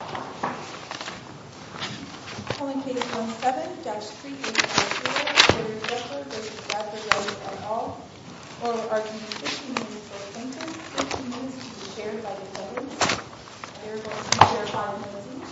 and all, will argue 15 minutes for the plaintiff, 15 minutes to be chaired by the defendants. They are going to share five minutes each.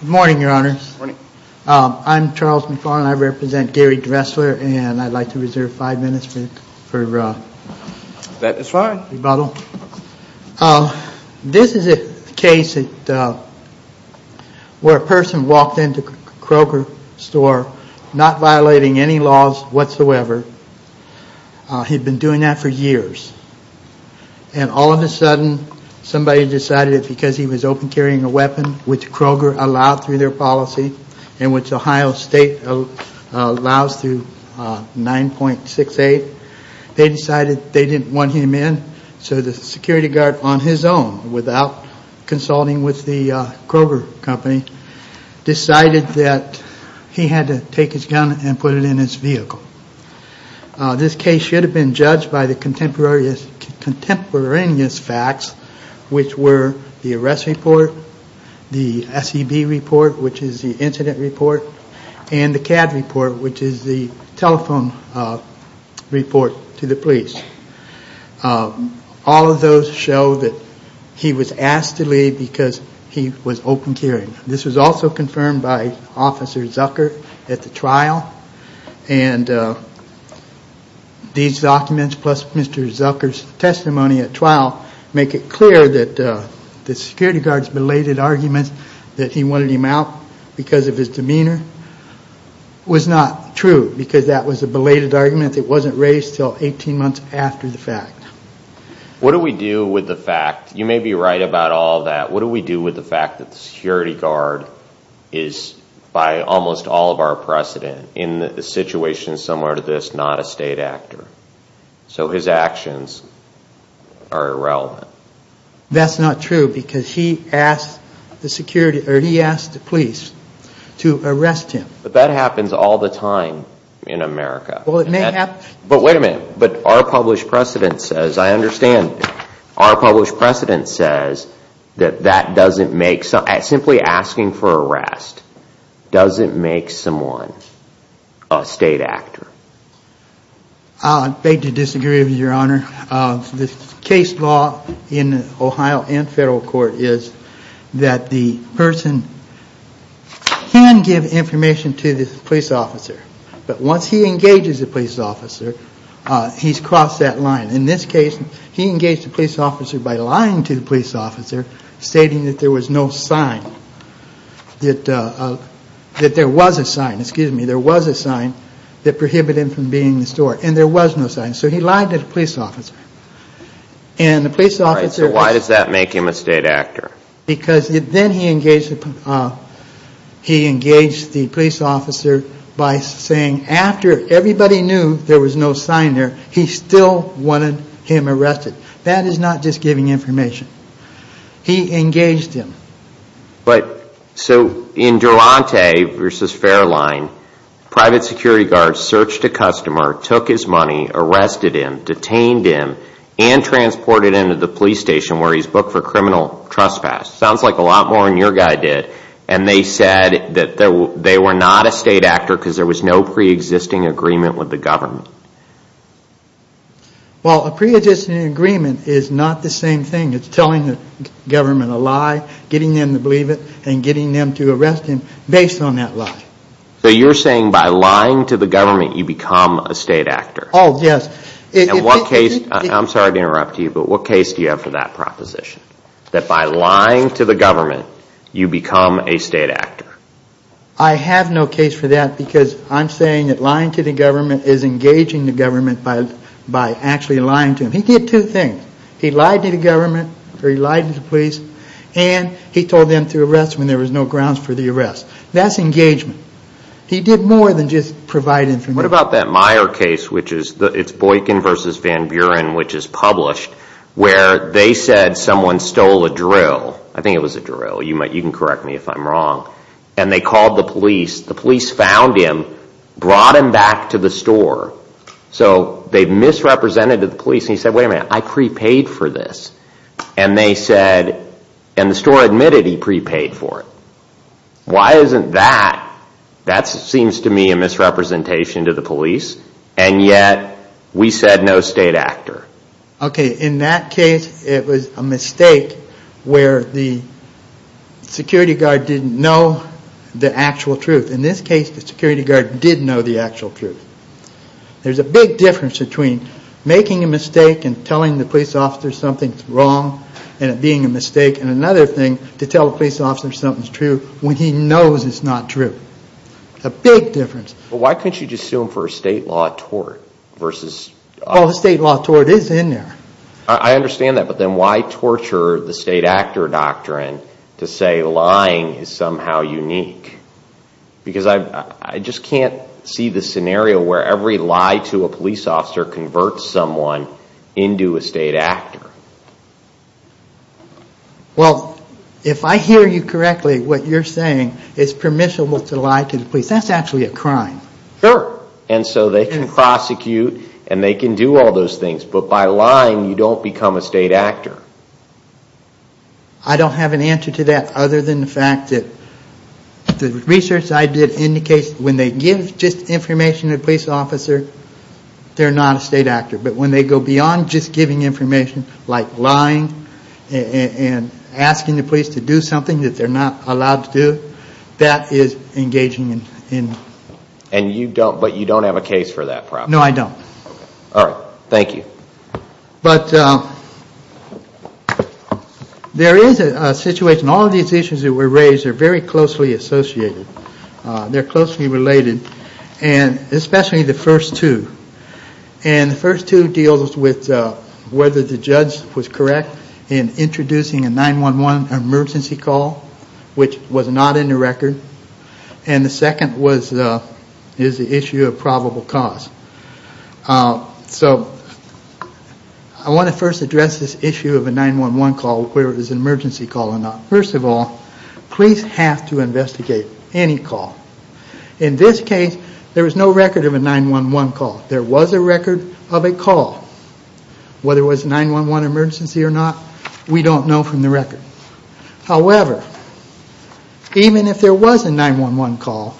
Good morning, your honors. I'm Charles McFarland, I represent Gary Dressler and I'd like to reserve five minutes for rebuttal. This is a case where a person walked into a Kroger store, not violating any laws whatsoever. He'd been doing that for years and all of a sudden somebody decided because he was open carrying a weapon, which Kroger allowed through their policy, and which Ohio State allows through 9.68, they decided they didn't want him in so the security guard on his own, without consulting with the Kroger company, decided that he had to take his gun and put it in his vehicle. This case should have been judged by the contemporaneous facts, which were the arrest report, the SEB report, which is the incident report, and the CAD report, which is the telephone report to the police. All of those show that he was asked to leave because he was open carrying. This was also confirmed by Officer Zucker at the trial and these documents plus Mr. Zucker's testimony at trial make it clear that the security guard's belated argument that he wanted him out because of his demeanor was not true because that was a belated argument that wasn't raised until 18 months after the fact. What do we do with the fact, you may be right about all of that, what do we do with the fact that the security guard is, by almost all of our precedent, in a situation similar to this, not a state actor? So his actions are irrelevant. That's not true because he asked the police to arrest him. But that happens all the time in America. But wait a minute, our published precedent says, I understand, our published precedent says that simply asking for arrest doesn't make someone a state actor. The case law in Ohio and federal court is that the person can give information to the police officer. But once he engages the police officer, he's crossed that line. In this case, he engaged the police officer by lying to the police officer, stating that there was no sign, that there was a sign, excuse me, there was a sign that prohibited him from being in the store. And there was no sign. So he lied to the police officer. So why does that make him a state actor? Because then he engaged the police officer by saying, after everybody knew there was no sign there, he still wanted him arrested. That is not just giving information. He engaged him. So in Durante v. Fairline, private security guards searched a customer, took his money, arrested him, detained him, and transported him to the police station where he's booked for criminal trespass. Sounds like a lot more than your guy did. And they said that they were not a state actor because there was no preexisting agreement with the government. Well, a preexisting agreement is not the same thing. It's telling the government a lie, getting them to believe it, and getting them to arrest him based on that lie. So you're saying by lying to the government, you become a state actor? Oh, yes. And what case, I'm sorry to interrupt you, but what case do you have for that proposition? That by lying to the government, you become a state actor? I have no case for that because I'm saying that lying to the government is engaging the government by actually lying to them. He did two things. He lied to the government or he lied to the police, and he told them to arrest him and there was no grounds for the arrest. That's engagement. He did more than just provide information. What about that Meyer case, which is Boykin v. Van Buren, which is published, where they said someone stole a drill. I think it was a drill. You can correct me if I'm wrong. And they called the police. The police found him, brought him back to the store. So they misrepresented the police and he said, wait a minute, I prepaid for this. And they said, and the store admitted he prepaid for it. Why isn't that? That seems to me a misrepresentation to the police, and yet we said no state actor. Okay, in that case, it was a mistake where the security guard didn't know the actual truth. In this case, the security guard did know the actual truth. There's a big difference between making a mistake and telling the police officer something's wrong and it being a mistake, and another thing, to tell the police officer something's true when he knows it's not true. A big difference. But why couldn't you just sue him for a state law tort versus... Well, the state law tort is in there. I understand that, but then why torture the state actor doctrine to say lying is somehow unique? Because I just can't see the scenario where every lie to a police officer converts someone into a state actor. Well, if I hear you correctly, what you're saying is permissible to lie to the police. That's actually a crime. Sure. And so they can prosecute and they can do all those things, but by lying, you don't become a state actor. I don't have an answer to that other than the fact that the research I did indicates when they give just information to a police officer, they're not a state actor. But when they go beyond just giving information like lying and asking the police to do something that they're not allowed to do, that is engaging in... But you don't have a case for that problem. No, I don't. All right. Thank you. But there is a situation. All of these issues that were raised are very closely associated. They're closely related, and especially the first two. And the first two deals with whether the judge was correct in introducing a 911 emergency call, which was not in the record. And the second is the issue of probable cause. So I want to first address this issue of a 911 call, whether it was an emergency call or not. First of all, police have to investigate any call. In this case, there was no record of a 911 call. There was a record of a call. Whether it was a 911 emergency or not, we don't know from the record. However, even if there was a 911 call,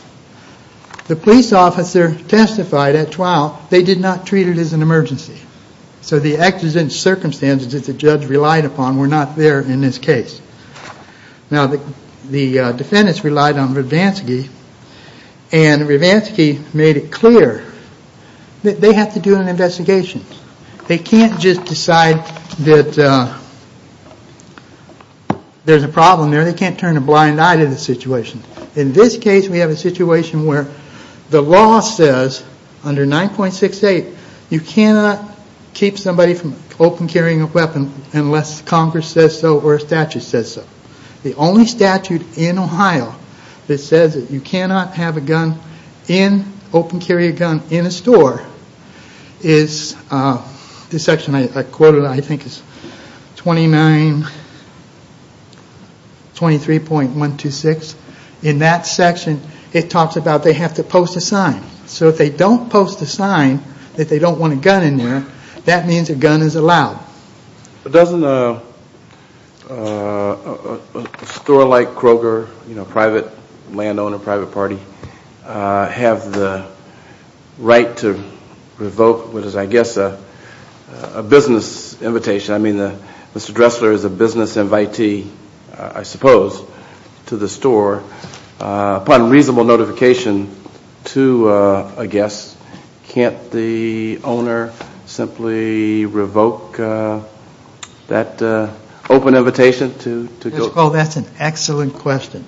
the police officer testified at 12, they did not treat it as an emergency. So the exigent circumstances that the judge relied upon were not there in this case. Now, the defendants relied on Rivansky, and Rivansky made it clear that they have to do an investigation. They can't just decide that there's a problem there. They can't turn a blind eye to the situation. In this case, we have a situation where the law says under 9.68, you cannot keep somebody from open carrying a weapon unless Congress says so or a statute says so. The only statute in Ohio that says that you cannot have a gun in, open carry a gun, in a store is this section I quoted, I think it's 2923.126. In that section, it talks about they have to post a sign. So if they don't post a sign that they don't want a gun in there, that means a gun is allowed. But doesn't a store like Kroger, private landowner, private party, have the right to revoke what is I guess a business invitation. I mean, Mr. Dressler is a business invitee, I suppose, to the store. Upon reasonable notification to a guest, can't the owner simply revoke that open invitation to go. Oh, that's an excellent question.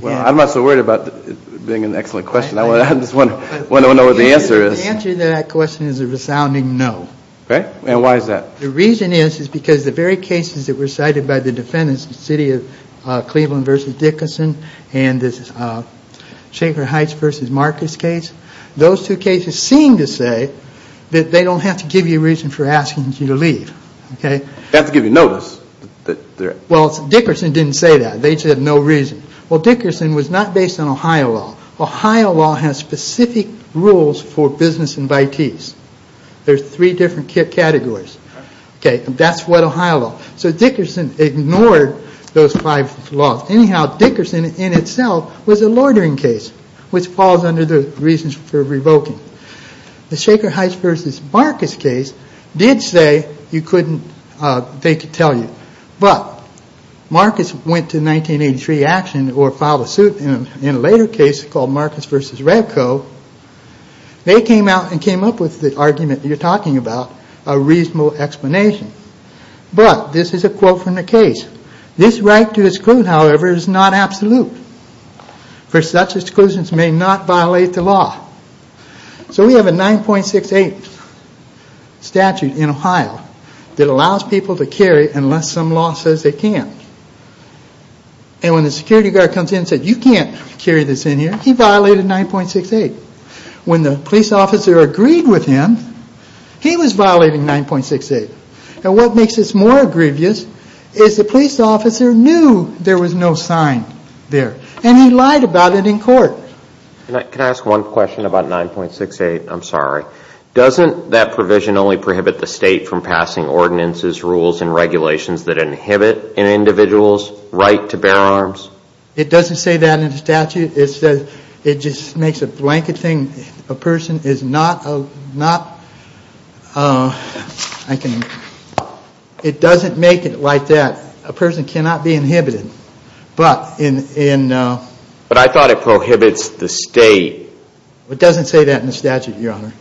Well, I'm not so worried about it being an excellent question. I just want to know what the answer is. The answer to that question is a resounding no. And why is that? The reason is because the very cases that were cited by the defendants, the city of Cleveland versus Dickerson, and this Schaefer Heights versus Marcus case, those two cases seem to say that they don't have to give you a reason for asking you to leave. They have to give you notice. Well, Dickerson didn't say that. They said no reason. Well, Dickerson was not based on Ohio law. Ohio law has specific rules for business invitees. There's three different categories. Okay, that's what Ohio law. So Dickerson ignored those five laws. Anyhow, Dickerson in itself was a loitering case, which falls under the reasons for revoking. The Schaefer Heights versus Marcus case did say they could tell you. But Marcus went to 1983 action or filed a suit in a later case called Marcus versus Redco. They came out and came up with the argument you're talking about, a reasonable explanation. But this is a quote from the case. This right to exclude, however, is not absolute, for such exclusions may not violate the law. So we have a 9.68 statute in Ohio that allows people to carry unless some law says they can't. And when the security guard comes in and says you can't carry this in here, he violated 9.68. When the police officer agreed with him, he was violating 9.68. And what makes this more egregious is the police officer knew there was no sign there. And he lied about it in court. Can I ask one question about 9.68? I'm sorry. Doesn't that provision only prohibit the state from passing ordinances, rules, and regulations that inhibit an individual's right to bear arms? It doesn't say that in the statute. It just makes a blanket thing. A person is not a, not, I can, it doesn't make it like that. A person cannot be inhibited. But in. But I thought it prohibits the state. It doesn't say that in the statute, Your Honor.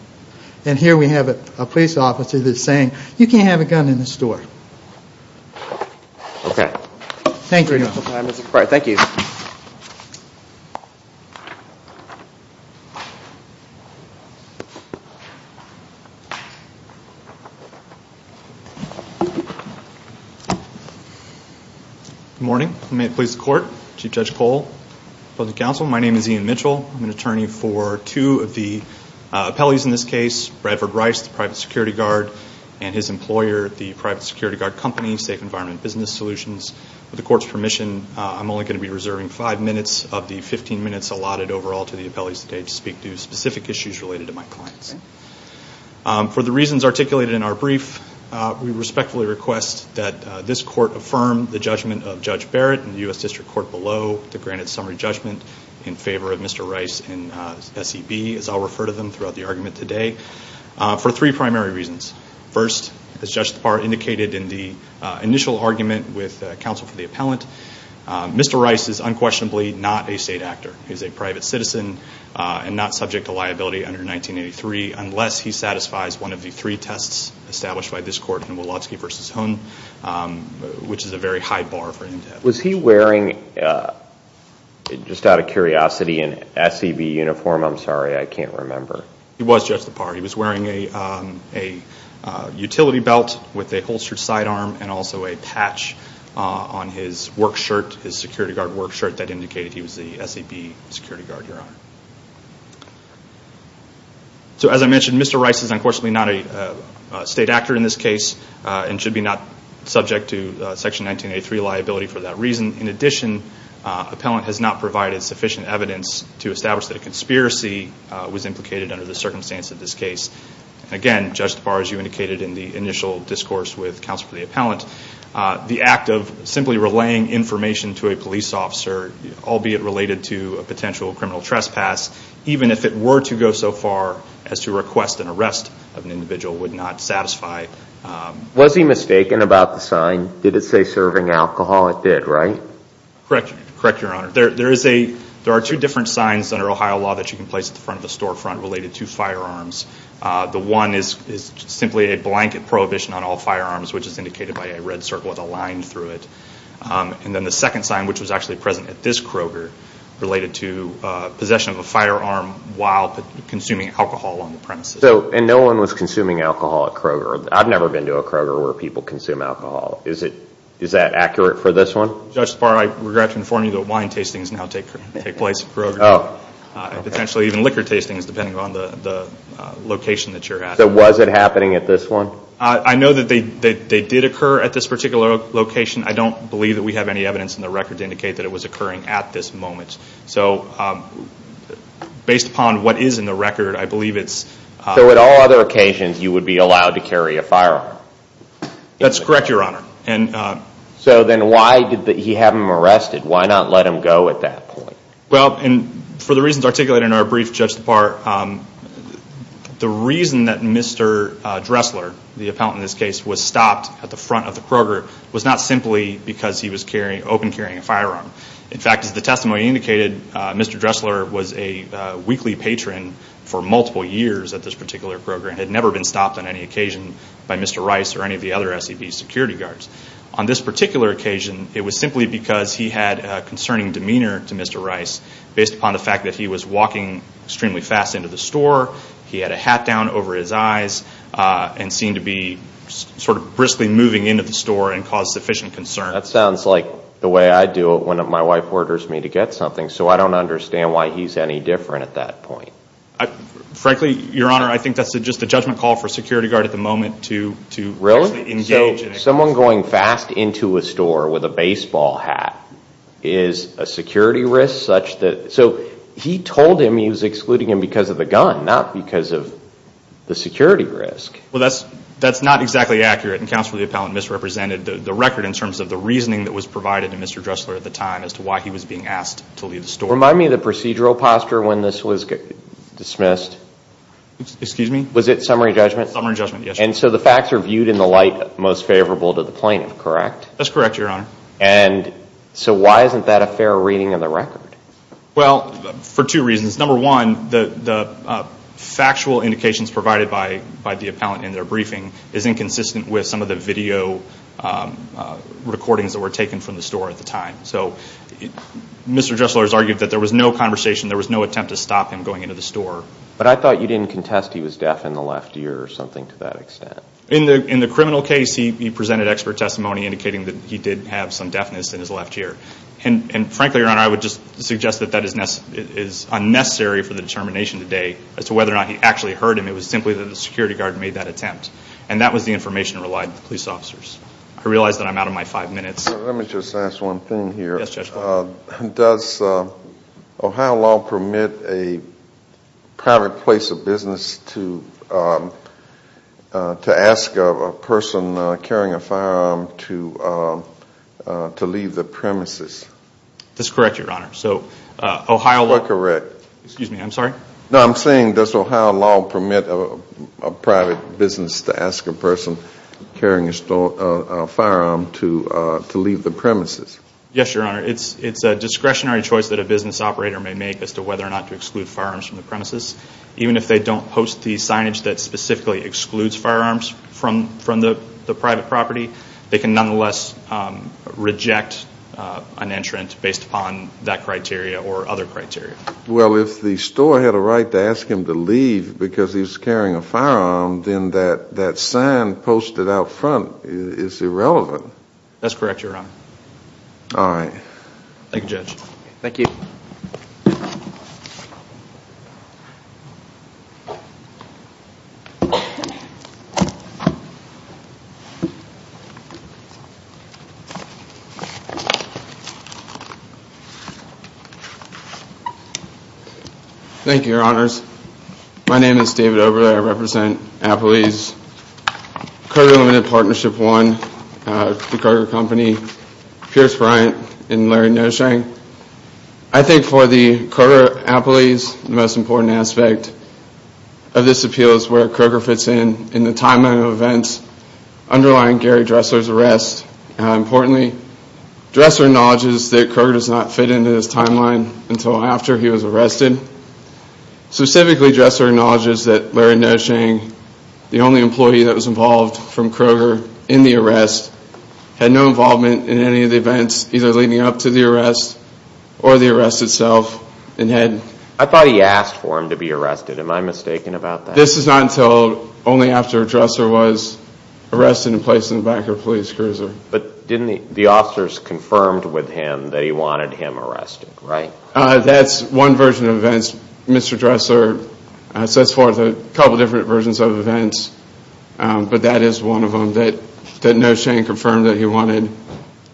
And here we have a police officer that's saying you can't have a gun in the store. Thank you, Your Honor. All right, thank you. Good morning. May it please the Court. Chief Judge Cole. Public Counsel. My name is Ian Mitchell. I'm an attorney for two of the appellees in this case, Bradford Rice, the private security guard, and his employer, the private security guard company, Safe Environment Business Solutions. With the Court's permission, I'm only going to be reserving five minutes of the 15 minutes allotted overall to the appellees today to speak to specific issues related to my clients. For the reasons articulated in our brief, we respectfully request that this Court affirm the judgment of Judge Barrett and the U.S. District Court below to grant a summary judgment in favor of Mr. Rice and SEB, as I'll refer to them throughout the argument today, for three primary reasons. First, as Judge Thapar indicated in the initial argument with counsel for the appellant, Mr. Rice is unquestionably not a state actor. He's a private citizen and not subject to liability under 1983 unless he satisfies one of the three tests established by this Court in Wolofsky v. Hoon, which is a very high bar for him to have. Was he wearing, just out of curiosity, an SEB uniform? I'm sorry, I can't remember. He was, Judge Thapar. He was wearing a utility belt with a holstered sidearm and also a patch on his work shirt, his security guard work shirt, that indicated he was the SEB security guard, Your Honor. So as I mentioned, Mr. Rice is unquestionably not a state actor in this case and should be not subject to Section 1983 liability for that reason. In addition, appellant has not provided sufficient evidence to establish that a conspiracy was implicated under the circumstance of this case. Again, Judge Thapar, as you indicated in the initial discourse with counsel for the appellant, the act of simply relaying information to a police officer, albeit related to a potential criminal trespass, even if it were to go so far as to request an arrest of an individual, would not satisfy. Was he mistaken about the sign? Did it say serving alcohol? It did, right? Correct, Your Honor. There are two different signs under Ohio law that you can place at the front of the storefront related to firearms. The one is simply a blanket prohibition on all firearms, which is indicated by a red circle with a line through it. And then the second sign, which was actually present at this Kroger, related to possession of a firearm while consuming alcohol on the premises. And no one was consuming alcohol at Kroger? I've never been to a Kroger where people consume alcohol. Is that accurate for this one? Judge Thapar, I regret to inform you that wine tastings now take place at Kroger, and potentially even liquor tastings, depending on the location that you're at. So was it happening at this one? I know that they did occur at this particular location. I don't believe that we have any evidence in the record to indicate that it was occurring at this moment. So based upon what is in the record, I believe it's... So at all other occasions you would be allowed to carry a firearm? That's correct, Your Honor. So then why did he have him arrested? Why not let him go at that point? Well, for the reasons articulated in our brief, Judge Thapar, the reason that Mr. Dressler, the appellant in this case, was stopped at the front of the Kroger was not simply because he was open carrying a firearm. In fact, as the testimony indicated, Mr. Dressler was a weekly patron for multiple years at this particular Kroger and had never been stopped on any occasion by Mr. Rice or any of the other SEB security guards. On this particular occasion, it was simply because he had a concerning demeanor to Mr. Rice based upon the fact that he was walking extremely fast into the store, he had a hat down over his eyes, and seemed to be sort of briskly moving into the store and cause sufficient concern. That sounds like the way I do it when my wife orders me to get something, so I don't understand why he's any different at that point. Frankly, Your Honor, I think that's just a judgment call for a security guard at the moment to... Really? So someone going fast into a store with a baseball hat is a security risk such that... So he told him he was excluding him because of the gun, not because of the security risk. Well, that's not exactly accurate, and Counsel for the Appellant misrepresented the record in terms of the reasoning that was provided to Mr. Dressler at the time as to why he was being asked to leave the store. Remind me of the procedural posture when this was dismissed. Excuse me? Was it summary judgment? Summary judgment, yes. And so the facts are viewed in the light most favorable to the plaintiff, correct? That's correct, Your Honor. And so why isn't that a fair reading of the record? Well, for two reasons. Number one, the factual indications provided by the appellant in their briefing is inconsistent with some of the video recordings that were taken from the store at the time. So Mr. Dressler has argued that there was no conversation, there was no attempt to stop him going into the store. But I thought you didn't contest he was deaf in the left ear or something to that extent. In the criminal case, he presented expert testimony indicating that he did have some deafness in his left ear. And frankly, Your Honor, I would just suggest that that is unnecessary for the determination today as to whether or not he actually heard him. It was simply that the security guard made that attempt. And that was the information relied on the police officers. I realize that I'm out of my five minutes. Let me just ask one thing here. Yes, Judge Boyle. Does Ohio law permit a private place of business to ask a person carrying a firearm to leave the premises? That's correct, Your Honor. So Ohio law... Correct. Excuse me, I'm sorry? No, I'm saying does Ohio law permit a private business to ask a person carrying a firearm to leave the premises? Yes, Your Honor. It's a discretionary choice that a business operator may make as to whether or not to exclude firearms from the premises. Even if they don't post the signage that specifically excludes firearms from the private property, they can nonetheless reject an entrant based upon that criteria or other criteria. Well, if the store had a right to ask him to leave because he was carrying a firearm, then that sign posted out front is irrelevant. That's correct, Your Honor. All right. Thank you, Judge. Thank you. Thank you, Your Honors. My name is David Oberle. I represent Appley's Kroger Limited Partnership I, the Kroger Company, Pierce Bryant, and Larry Noshank. I think for the Kroger Appley's, the most important aspect of this appeal is where Kroger fits in in the timeline of events underlying Gary Dressler's arrest. Importantly, Dressler acknowledges that Kroger does not fit into this timeline until after he was arrested. Specifically, Dressler acknowledges that Larry Noshank, the only employee that was involved from Kroger in the arrest, had no involvement in any of the events either leading up to the arrest or the arrest itself. I thought he asked for him to be arrested. Am I mistaken about that? This is not until only after Dressler was arrested and placed in the back of a police cruiser. But the officers confirmed with him that he wanted him arrested, right? That's one version of events. Mr. Dressler sets forth a couple different versions of events, but that is one of them that Noshank confirmed that he wanted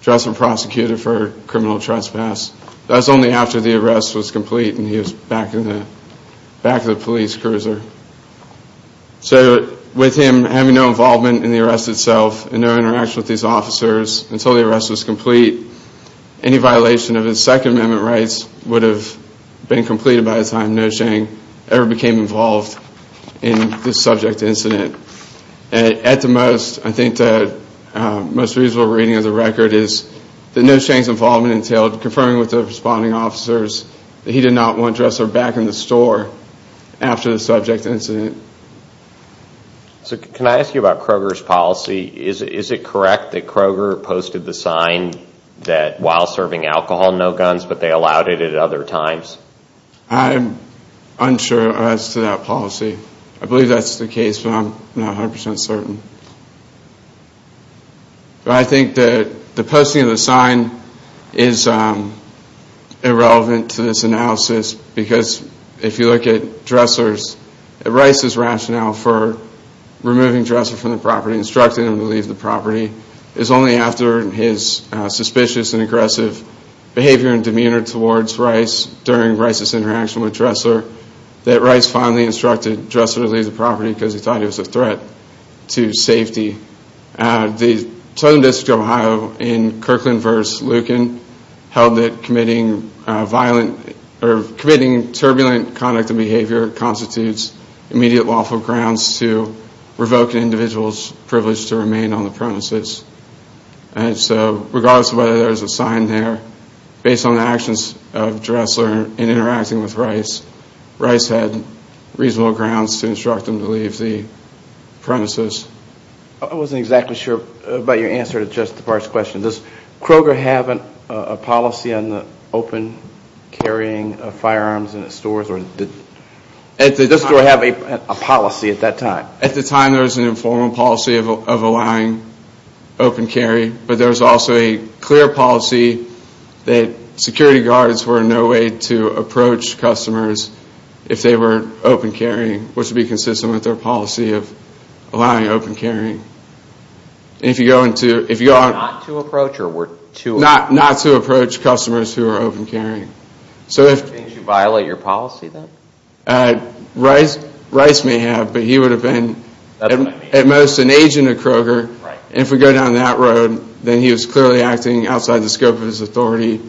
Dressler prosecuted for criminal trespass. That's only after the arrest was complete and he was back in the back of the police cruiser. So with him having no involvement in the arrest itself and no interaction with these officers until the arrest was complete, any violation of his Second Amendment rights would have been completed by the time Noshank ever became involved in the subject incident. At the most, I think the most reasonable reading of the record is that Noshank's involvement entailed confirming with the responding officers that he did not want Dressler back in the store after the subject incident. So can I ask you about Kroger's policy? Is it correct that Kroger posted the sign that while serving alcohol, no guns, but they allowed it at other times? I'm unsure as to that policy. I believe that's the case, but I'm not 100% certain. But I think that the posting of the sign is irrelevant to this analysis because if you look at Dressler's, Rice's rationale for removing Dressler from the property, instructing him to leave the property is only after his suspicious and aggressive behavior and demeanor towards Rice during Rice's interaction with Dressler that Rice finally instructed Dressler to leave the property because he thought he was a threat to safety. The Tohono O'odham District of Ohio in Kirkland v. Lucan held that committing turbulent conduct and behavior constitutes immediate lawful grounds to revoke an individual's privilege to remain on the premises. So regardless of whether there's a sign there, based on the actions of Dressler in interacting with Rice, Rice had reasonable grounds to instruct him to leave the premises. I wasn't exactly sure about your answer to Judge DePard's question. Does Kroger have a policy on the open carrying of firearms in its stores? Does the store have a policy at that time? At the time there was an informal policy of allowing open carry, but there was also a clear policy that security guards were in no way to approach customers if they were open carrying, which would be consistent with their policy of allowing open carrying. Not to approach customers who are open carrying. Did you violate your policy then? Rice may have, but he would have been at most an agent of Kroger. And if we go down that road, then he was clearly acting outside the scope of his authority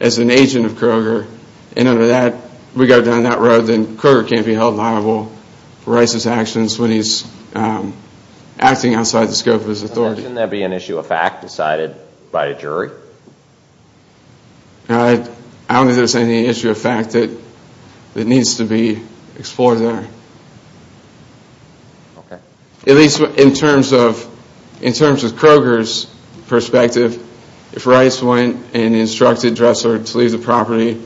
as an agent of Kroger. And under that, if we go down that road, then Kroger can't be held liable for Rice's actions when he's acting outside the scope of his authority. Shouldn't there be an issue of fact decided by a jury? I don't think there's any issue of fact that needs to be explored there. At least in terms of Kroger's perspective, if Rice went and instructed Dressler to leave the property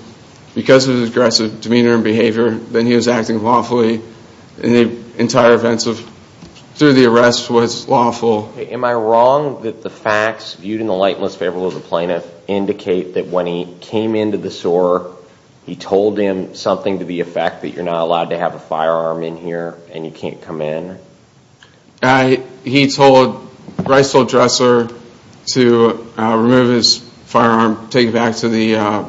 because of his aggressive demeanor and behavior, then he was acting lawfully, and the entire event through the arrest was lawful. Am I wrong that the facts viewed in the light most favorable of the plaintiff indicate that when he came into the store, he told him something to the effect that you're not allowed to have a firearm in here and you can't come in? Rice told Dressler to remove his firearm, take it back to the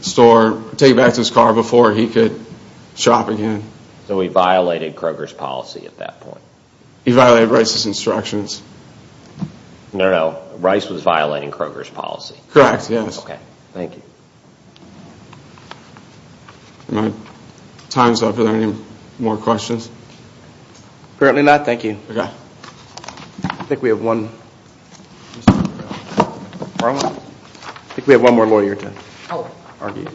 store, take it back to his car before he could shop again. So he violated Kroger's policy at that point? He violated Rice's instructions. No, no, Rice was violating Kroger's policy? Correct, yes. Okay, thank you. Are there any more questions? Apparently not. Thank you. Okay. I think we have one more lawyer to argue.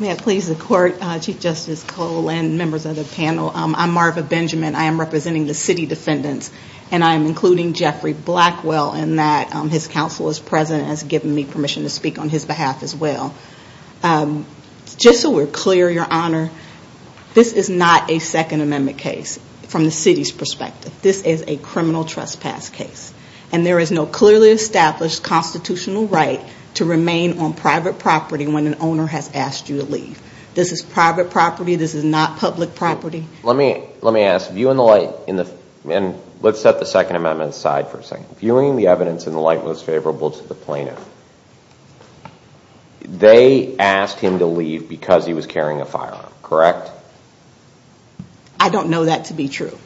May it please the Court, Chief Justice Cole and members of the panel, I'm Marva Benjamin. I am representing the city defendants, and I am including Jeffrey Blackwell in that his counsel is present and has given me permission to speak on his behalf as well. Just so we're clear, Your Honor, this is not a Second Amendment case from the city's perspective. This is a criminal trespass case, and there is no clearly established constitutional right to remain on private property when an owner has asked you to leave. This is private property. This is not public property. Let me ask. Let's set the Second Amendment aside for a second. Viewing the evidence in the light most favorable to the plaintiff, they asked him to leave because he was carrying a firearm, correct? I don't know that to be true.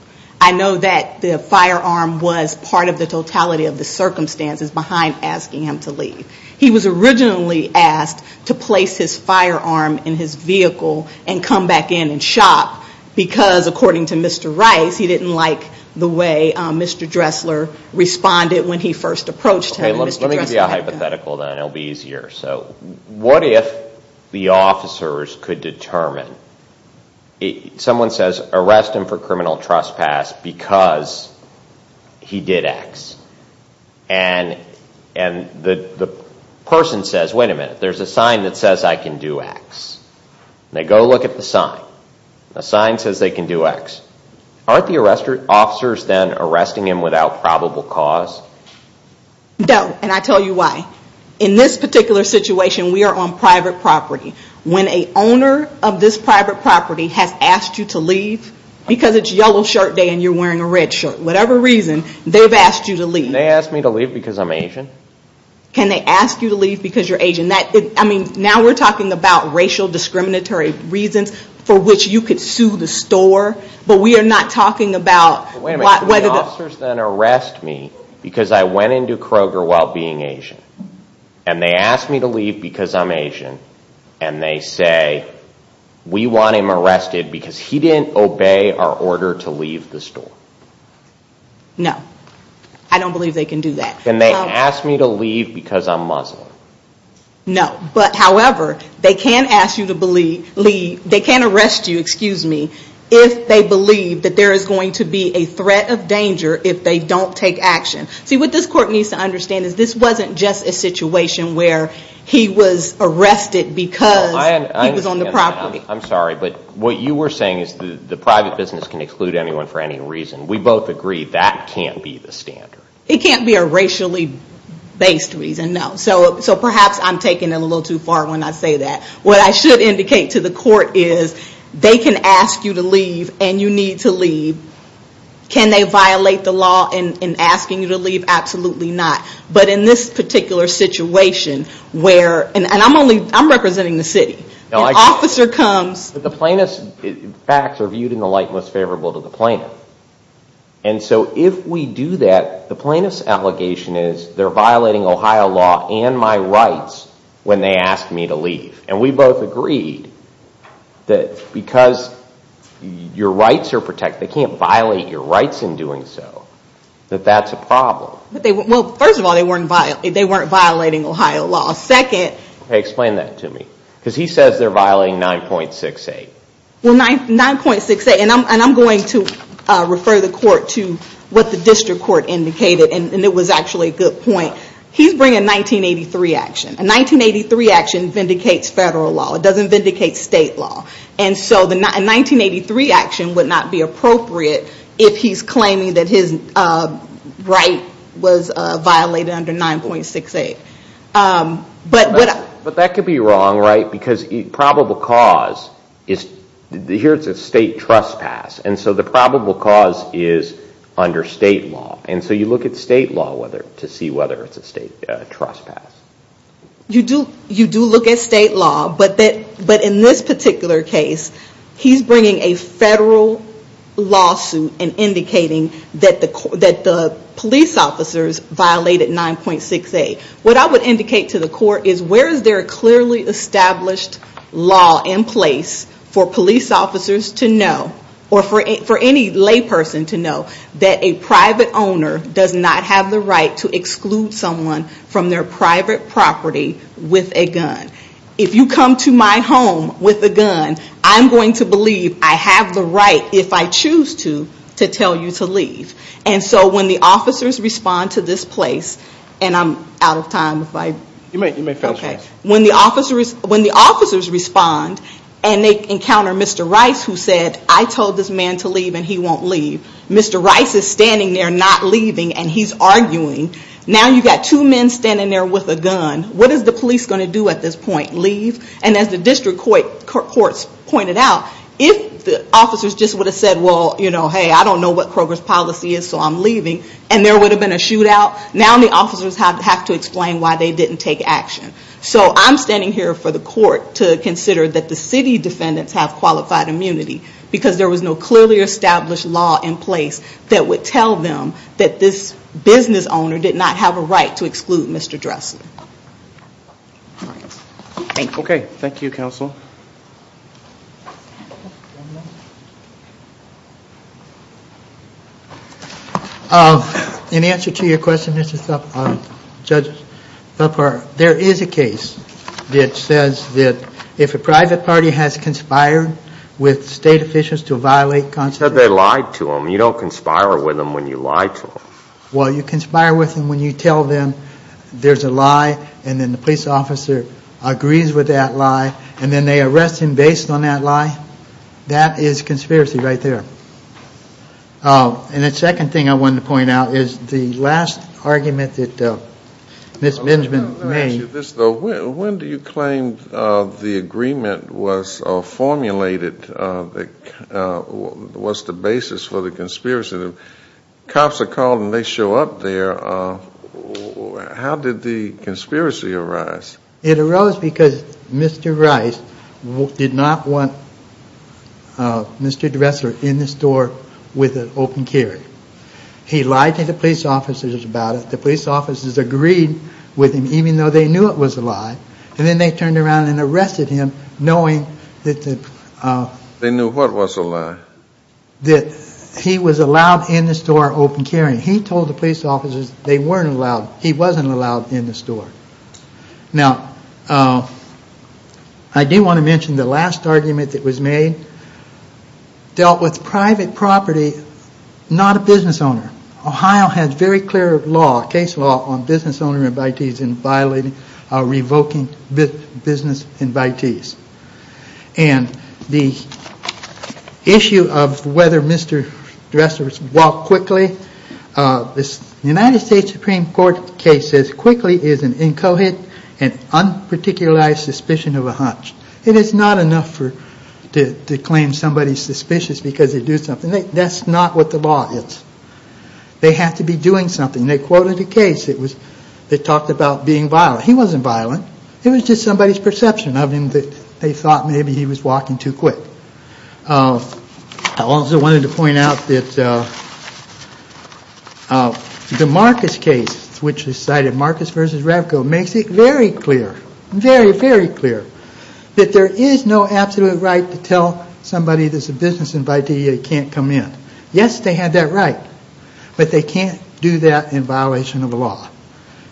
I know that the firearm was part of the totality of the circumstances behind asking him to leave. He was originally asked to place his firearm in his vehicle and come back in and shop because, according to Mr. Rice, he didn't like the way Mr. Dressler responded when he first approached him. Let me give you a hypothetical then. It will be easier. What if the officers could determine, someone says, arrest him for criminal trespass because he did X, and the person says, wait a minute, there's a sign that says I can do X. They go look at the sign. The sign says they can do X. Aren't the officers then arresting him without probable cause? No, and I'll tell you why. In this particular situation, we are on private property. When an owner of this private property has asked you to leave because it's Yellow Shirt Day and you're wearing a red shirt, whatever reason, they've asked you to leave. Can they ask me to leave because I'm Asian? Can they ask you to leave because you're Asian? Now we're talking about racial discriminatory reasons for which you could sue the store, but we are not talking about whether the— Wait a minute, can the officers then arrest me because I went into Kroger while being Asian, and they ask me to leave because I'm Asian, and they say we want him arrested because he didn't obey our order to leave the store? No, I don't believe they can do that. Can they ask me to leave because I'm Muslim? No, but however, they can arrest you if they believe that there is going to be a threat of danger if they don't take action. See, what this court needs to understand is this wasn't just a situation where he was arrested because he was on the property. I'm sorry, but what you were saying is the private business can exclude anyone for any reason. We both agree that can't be the standard. It can't be a racially based reason, no. So perhaps I'm taking it a little too far when I say that. What I should indicate to the court is they can ask you to leave and you need to leave. Can they violate the law in asking you to leave? Absolutely not. But in this particular situation where, and I'm representing the city. An officer comes. The plaintiff's facts are viewed in the light most favorable to the plaintiff. And so if we do that, the plaintiff's allegation is they're violating Ohio law and my rights when they ask me to leave. And we both agreed that because your rights are protected, they can't violate your rights in doing so. That that's a problem. Well, first of all, they weren't violating Ohio law. Second. Okay, explain that to me. Because he says they're violating 9.68. Well, 9.68, and I'm going to refer the court to what the district court indicated, and it was actually a good point. He's bringing a 1983 action. A 1983 action vindicates federal law. It doesn't vindicate state law. And so a 1983 action would not be appropriate if he's claiming that his right was violated under 9.68. But that could be wrong, right? Because probable cause, here it's a state trespass. And so the probable cause is under state law. And so you look at state law to see whether it's a state trespass. You do look at state law. But in this particular case, he's bringing a federal lawsuit and indicating that the police officers violated 9.68. What I would indicate to the court is where is there a clearly established law in place for police officers to know, or for any lay person to know, that a private owner does not have the right to exclude someone from their private property with a gun? If you come to my home with a gun, I'm going to believe I have the right, if I choose to, to tell you to leave. And so when the officers respond to this place, and I'm out of time. You may finish. When the officers respond and they encounter Mr. Rice who said, I told this man to leave and he won't leave. Mr. Rice is standing there not leaving and he's arguing. Now you've got two men standing there with a gun. What is the police going to do at this point? Leave? And as the district courts pointed out, if the officers just would have said, well, hey, I don't know what Kroger's policy is, so I'm leaving, and there would have been a shootout, now the officers have to explain why they didn't take action. So I'm standing here for the court to consider that the city defendants have qualified immunity because there was no clearly established law in place that would tell them that this business owner did not have a right to exclude Mr. Dressler. Okay. Thank you, Counsel. In answer to your question, Mr. Thupper, Judge Thupper, there is a case that says that if a private party has conspired with state officials to violate constitutional law. You said they lied to them. You don't conspire with them when you lie to them. Well, you conspire with them when you tell them there's a lie and then the police officer agrees with that lie, and then they arrest him based on that lie. That is conspiracy right there. And the second thing I wanted to point out is the last argument that Ms. Benjamin made. Let me ask you this, though. When do you claim the agreement was formulated? What's the basis for the conspiracy? Cops are called and they show up there. How did the conspiracy arise? It arose because Mr. Rice did not want Mr. Dressler in the store with an open carry. He lied to the police officers about it. The police officers agreed with him even though they knew it was a lie, and then they turned around and arrested him knowing that the- They knew what was a lie? That he was allowed in the store open carrying. He told the police officers they weren't allowed. He wasn't allowed in the store. Now, I do want to mention the last argument that was made dealt with private property, not a business owner. Ohio has very clear law, case law, on business owner invitees and violating or revoking business invitees. And the issue of whether Mr. Dressler walked quickly, the United States Supreme Court case says, quickly is an incoherent and unparticularized suspicion of a hunch. It is not enough to claim somebody's suspicious because they do something. That's not what the law is. They have to be doing something. They quoted a case that talked about being violent. He wasn't violent. It was just somebody's perception of him that they thought maybe he was walking too quick. I also wanted to point out that the Marcus case, which cited Marcus v. Ravko, makes it very clear, very, very clear, that there is no absolute right to tell somebody that's a business invitee they can't come in. Yes, they had that right, but they can't do that in violation of the law.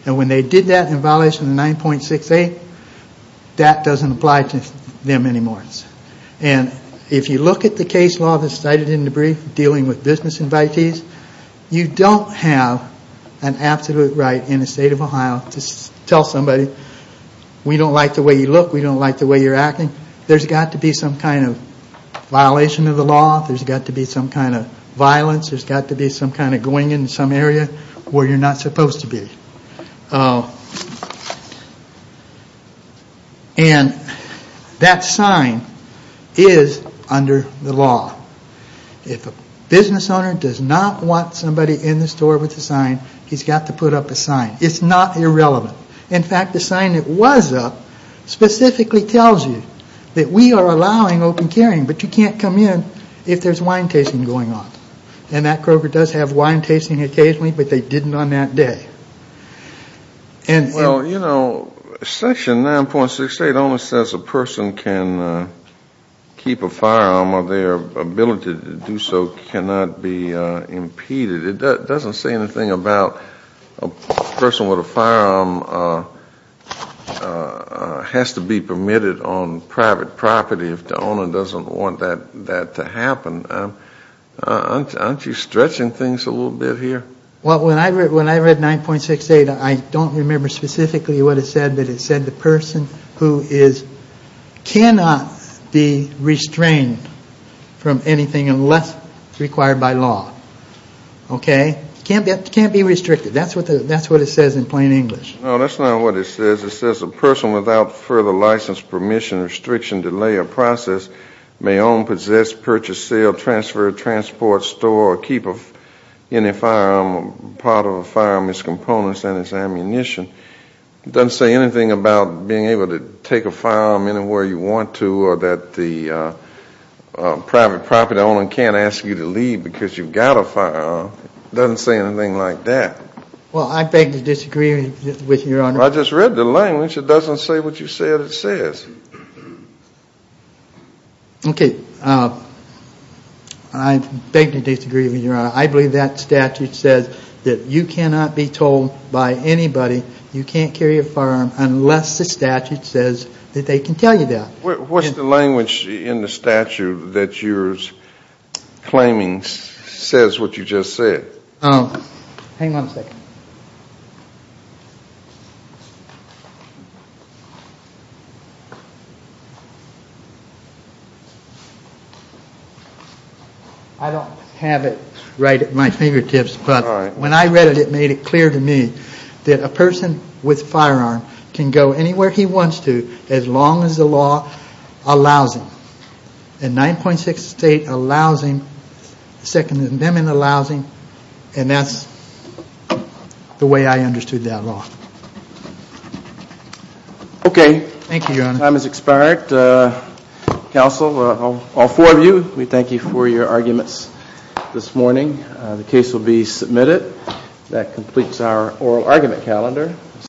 And when they did that in violation of 9.68, that doesn't apply to them anymore. And if you look at the case law that's cited in the brief dealing with business invitees, you don't have an absolute right in the state of Ohio to tell somebody, we don't like the way you look, we don't like the way you're acting. There's got to be some kind of violation of the law. There's got to be some kind of violence. There's got to be some kind of going in some area where you're not supposed to be. And that sign is under the law. If a business owner does not want somebody in the store with a sign, he's got to put up a sign. It's not irrelevant. In fact, the sign that was up specifically tells you that we are allowing open carrying, but you can't come in if there's wine tasting going on. And that broker does have wine tasting occasionally, but they didn't on that day. Well, you know, Section 9.68 only says a person can keep a firearm or their ability to do so cannot be impeded. It doesn't say anything about a person with a firearm has to be permitted on private property if the owner doesn't want that to happen. Aren't you stretching things a little bit here? Well, when I read 9.68, I don't remember specifically what it said, but it said the person cannot be restrained from anything unless it's required by law. Okay? It can't be restricted. That's what it says in plain English. No, that's not what it says. It says a person without further license, permission, restriction, delay, or process may own, part of a firearm, its components, and its ammunition. It doesn't say anything about being able to take a firearm anywhere you want to or that the private property owner can't ask you to leave because you've got a firearm. It doesn't say anything like that. Well, I beg to disagree with you, Your Honor. I just read the language. It doesn't say what you said it says. Okay. I beg to disagree with you, Your Honor. I believe that statute says that you cannot be told by anybody you can't carry a firearm unless the statute says that they can tell you that. What's the language in the statute that you're claiming says what you just said? Hang on a second. I don't have it right at my fingertips, but when I read it, it made it clear to me that a person with a firearm can go anywhere he wants to as long as the law allows him. In 9.6, the state allows him. Second Amendment allows him. And that's the way I understood that law. Okay. Thank you, Your Honor. Time has expired. Counsel, all four of you, we thank you for your arguments this morning. The case will be submitted. That completes our oral argument calendar.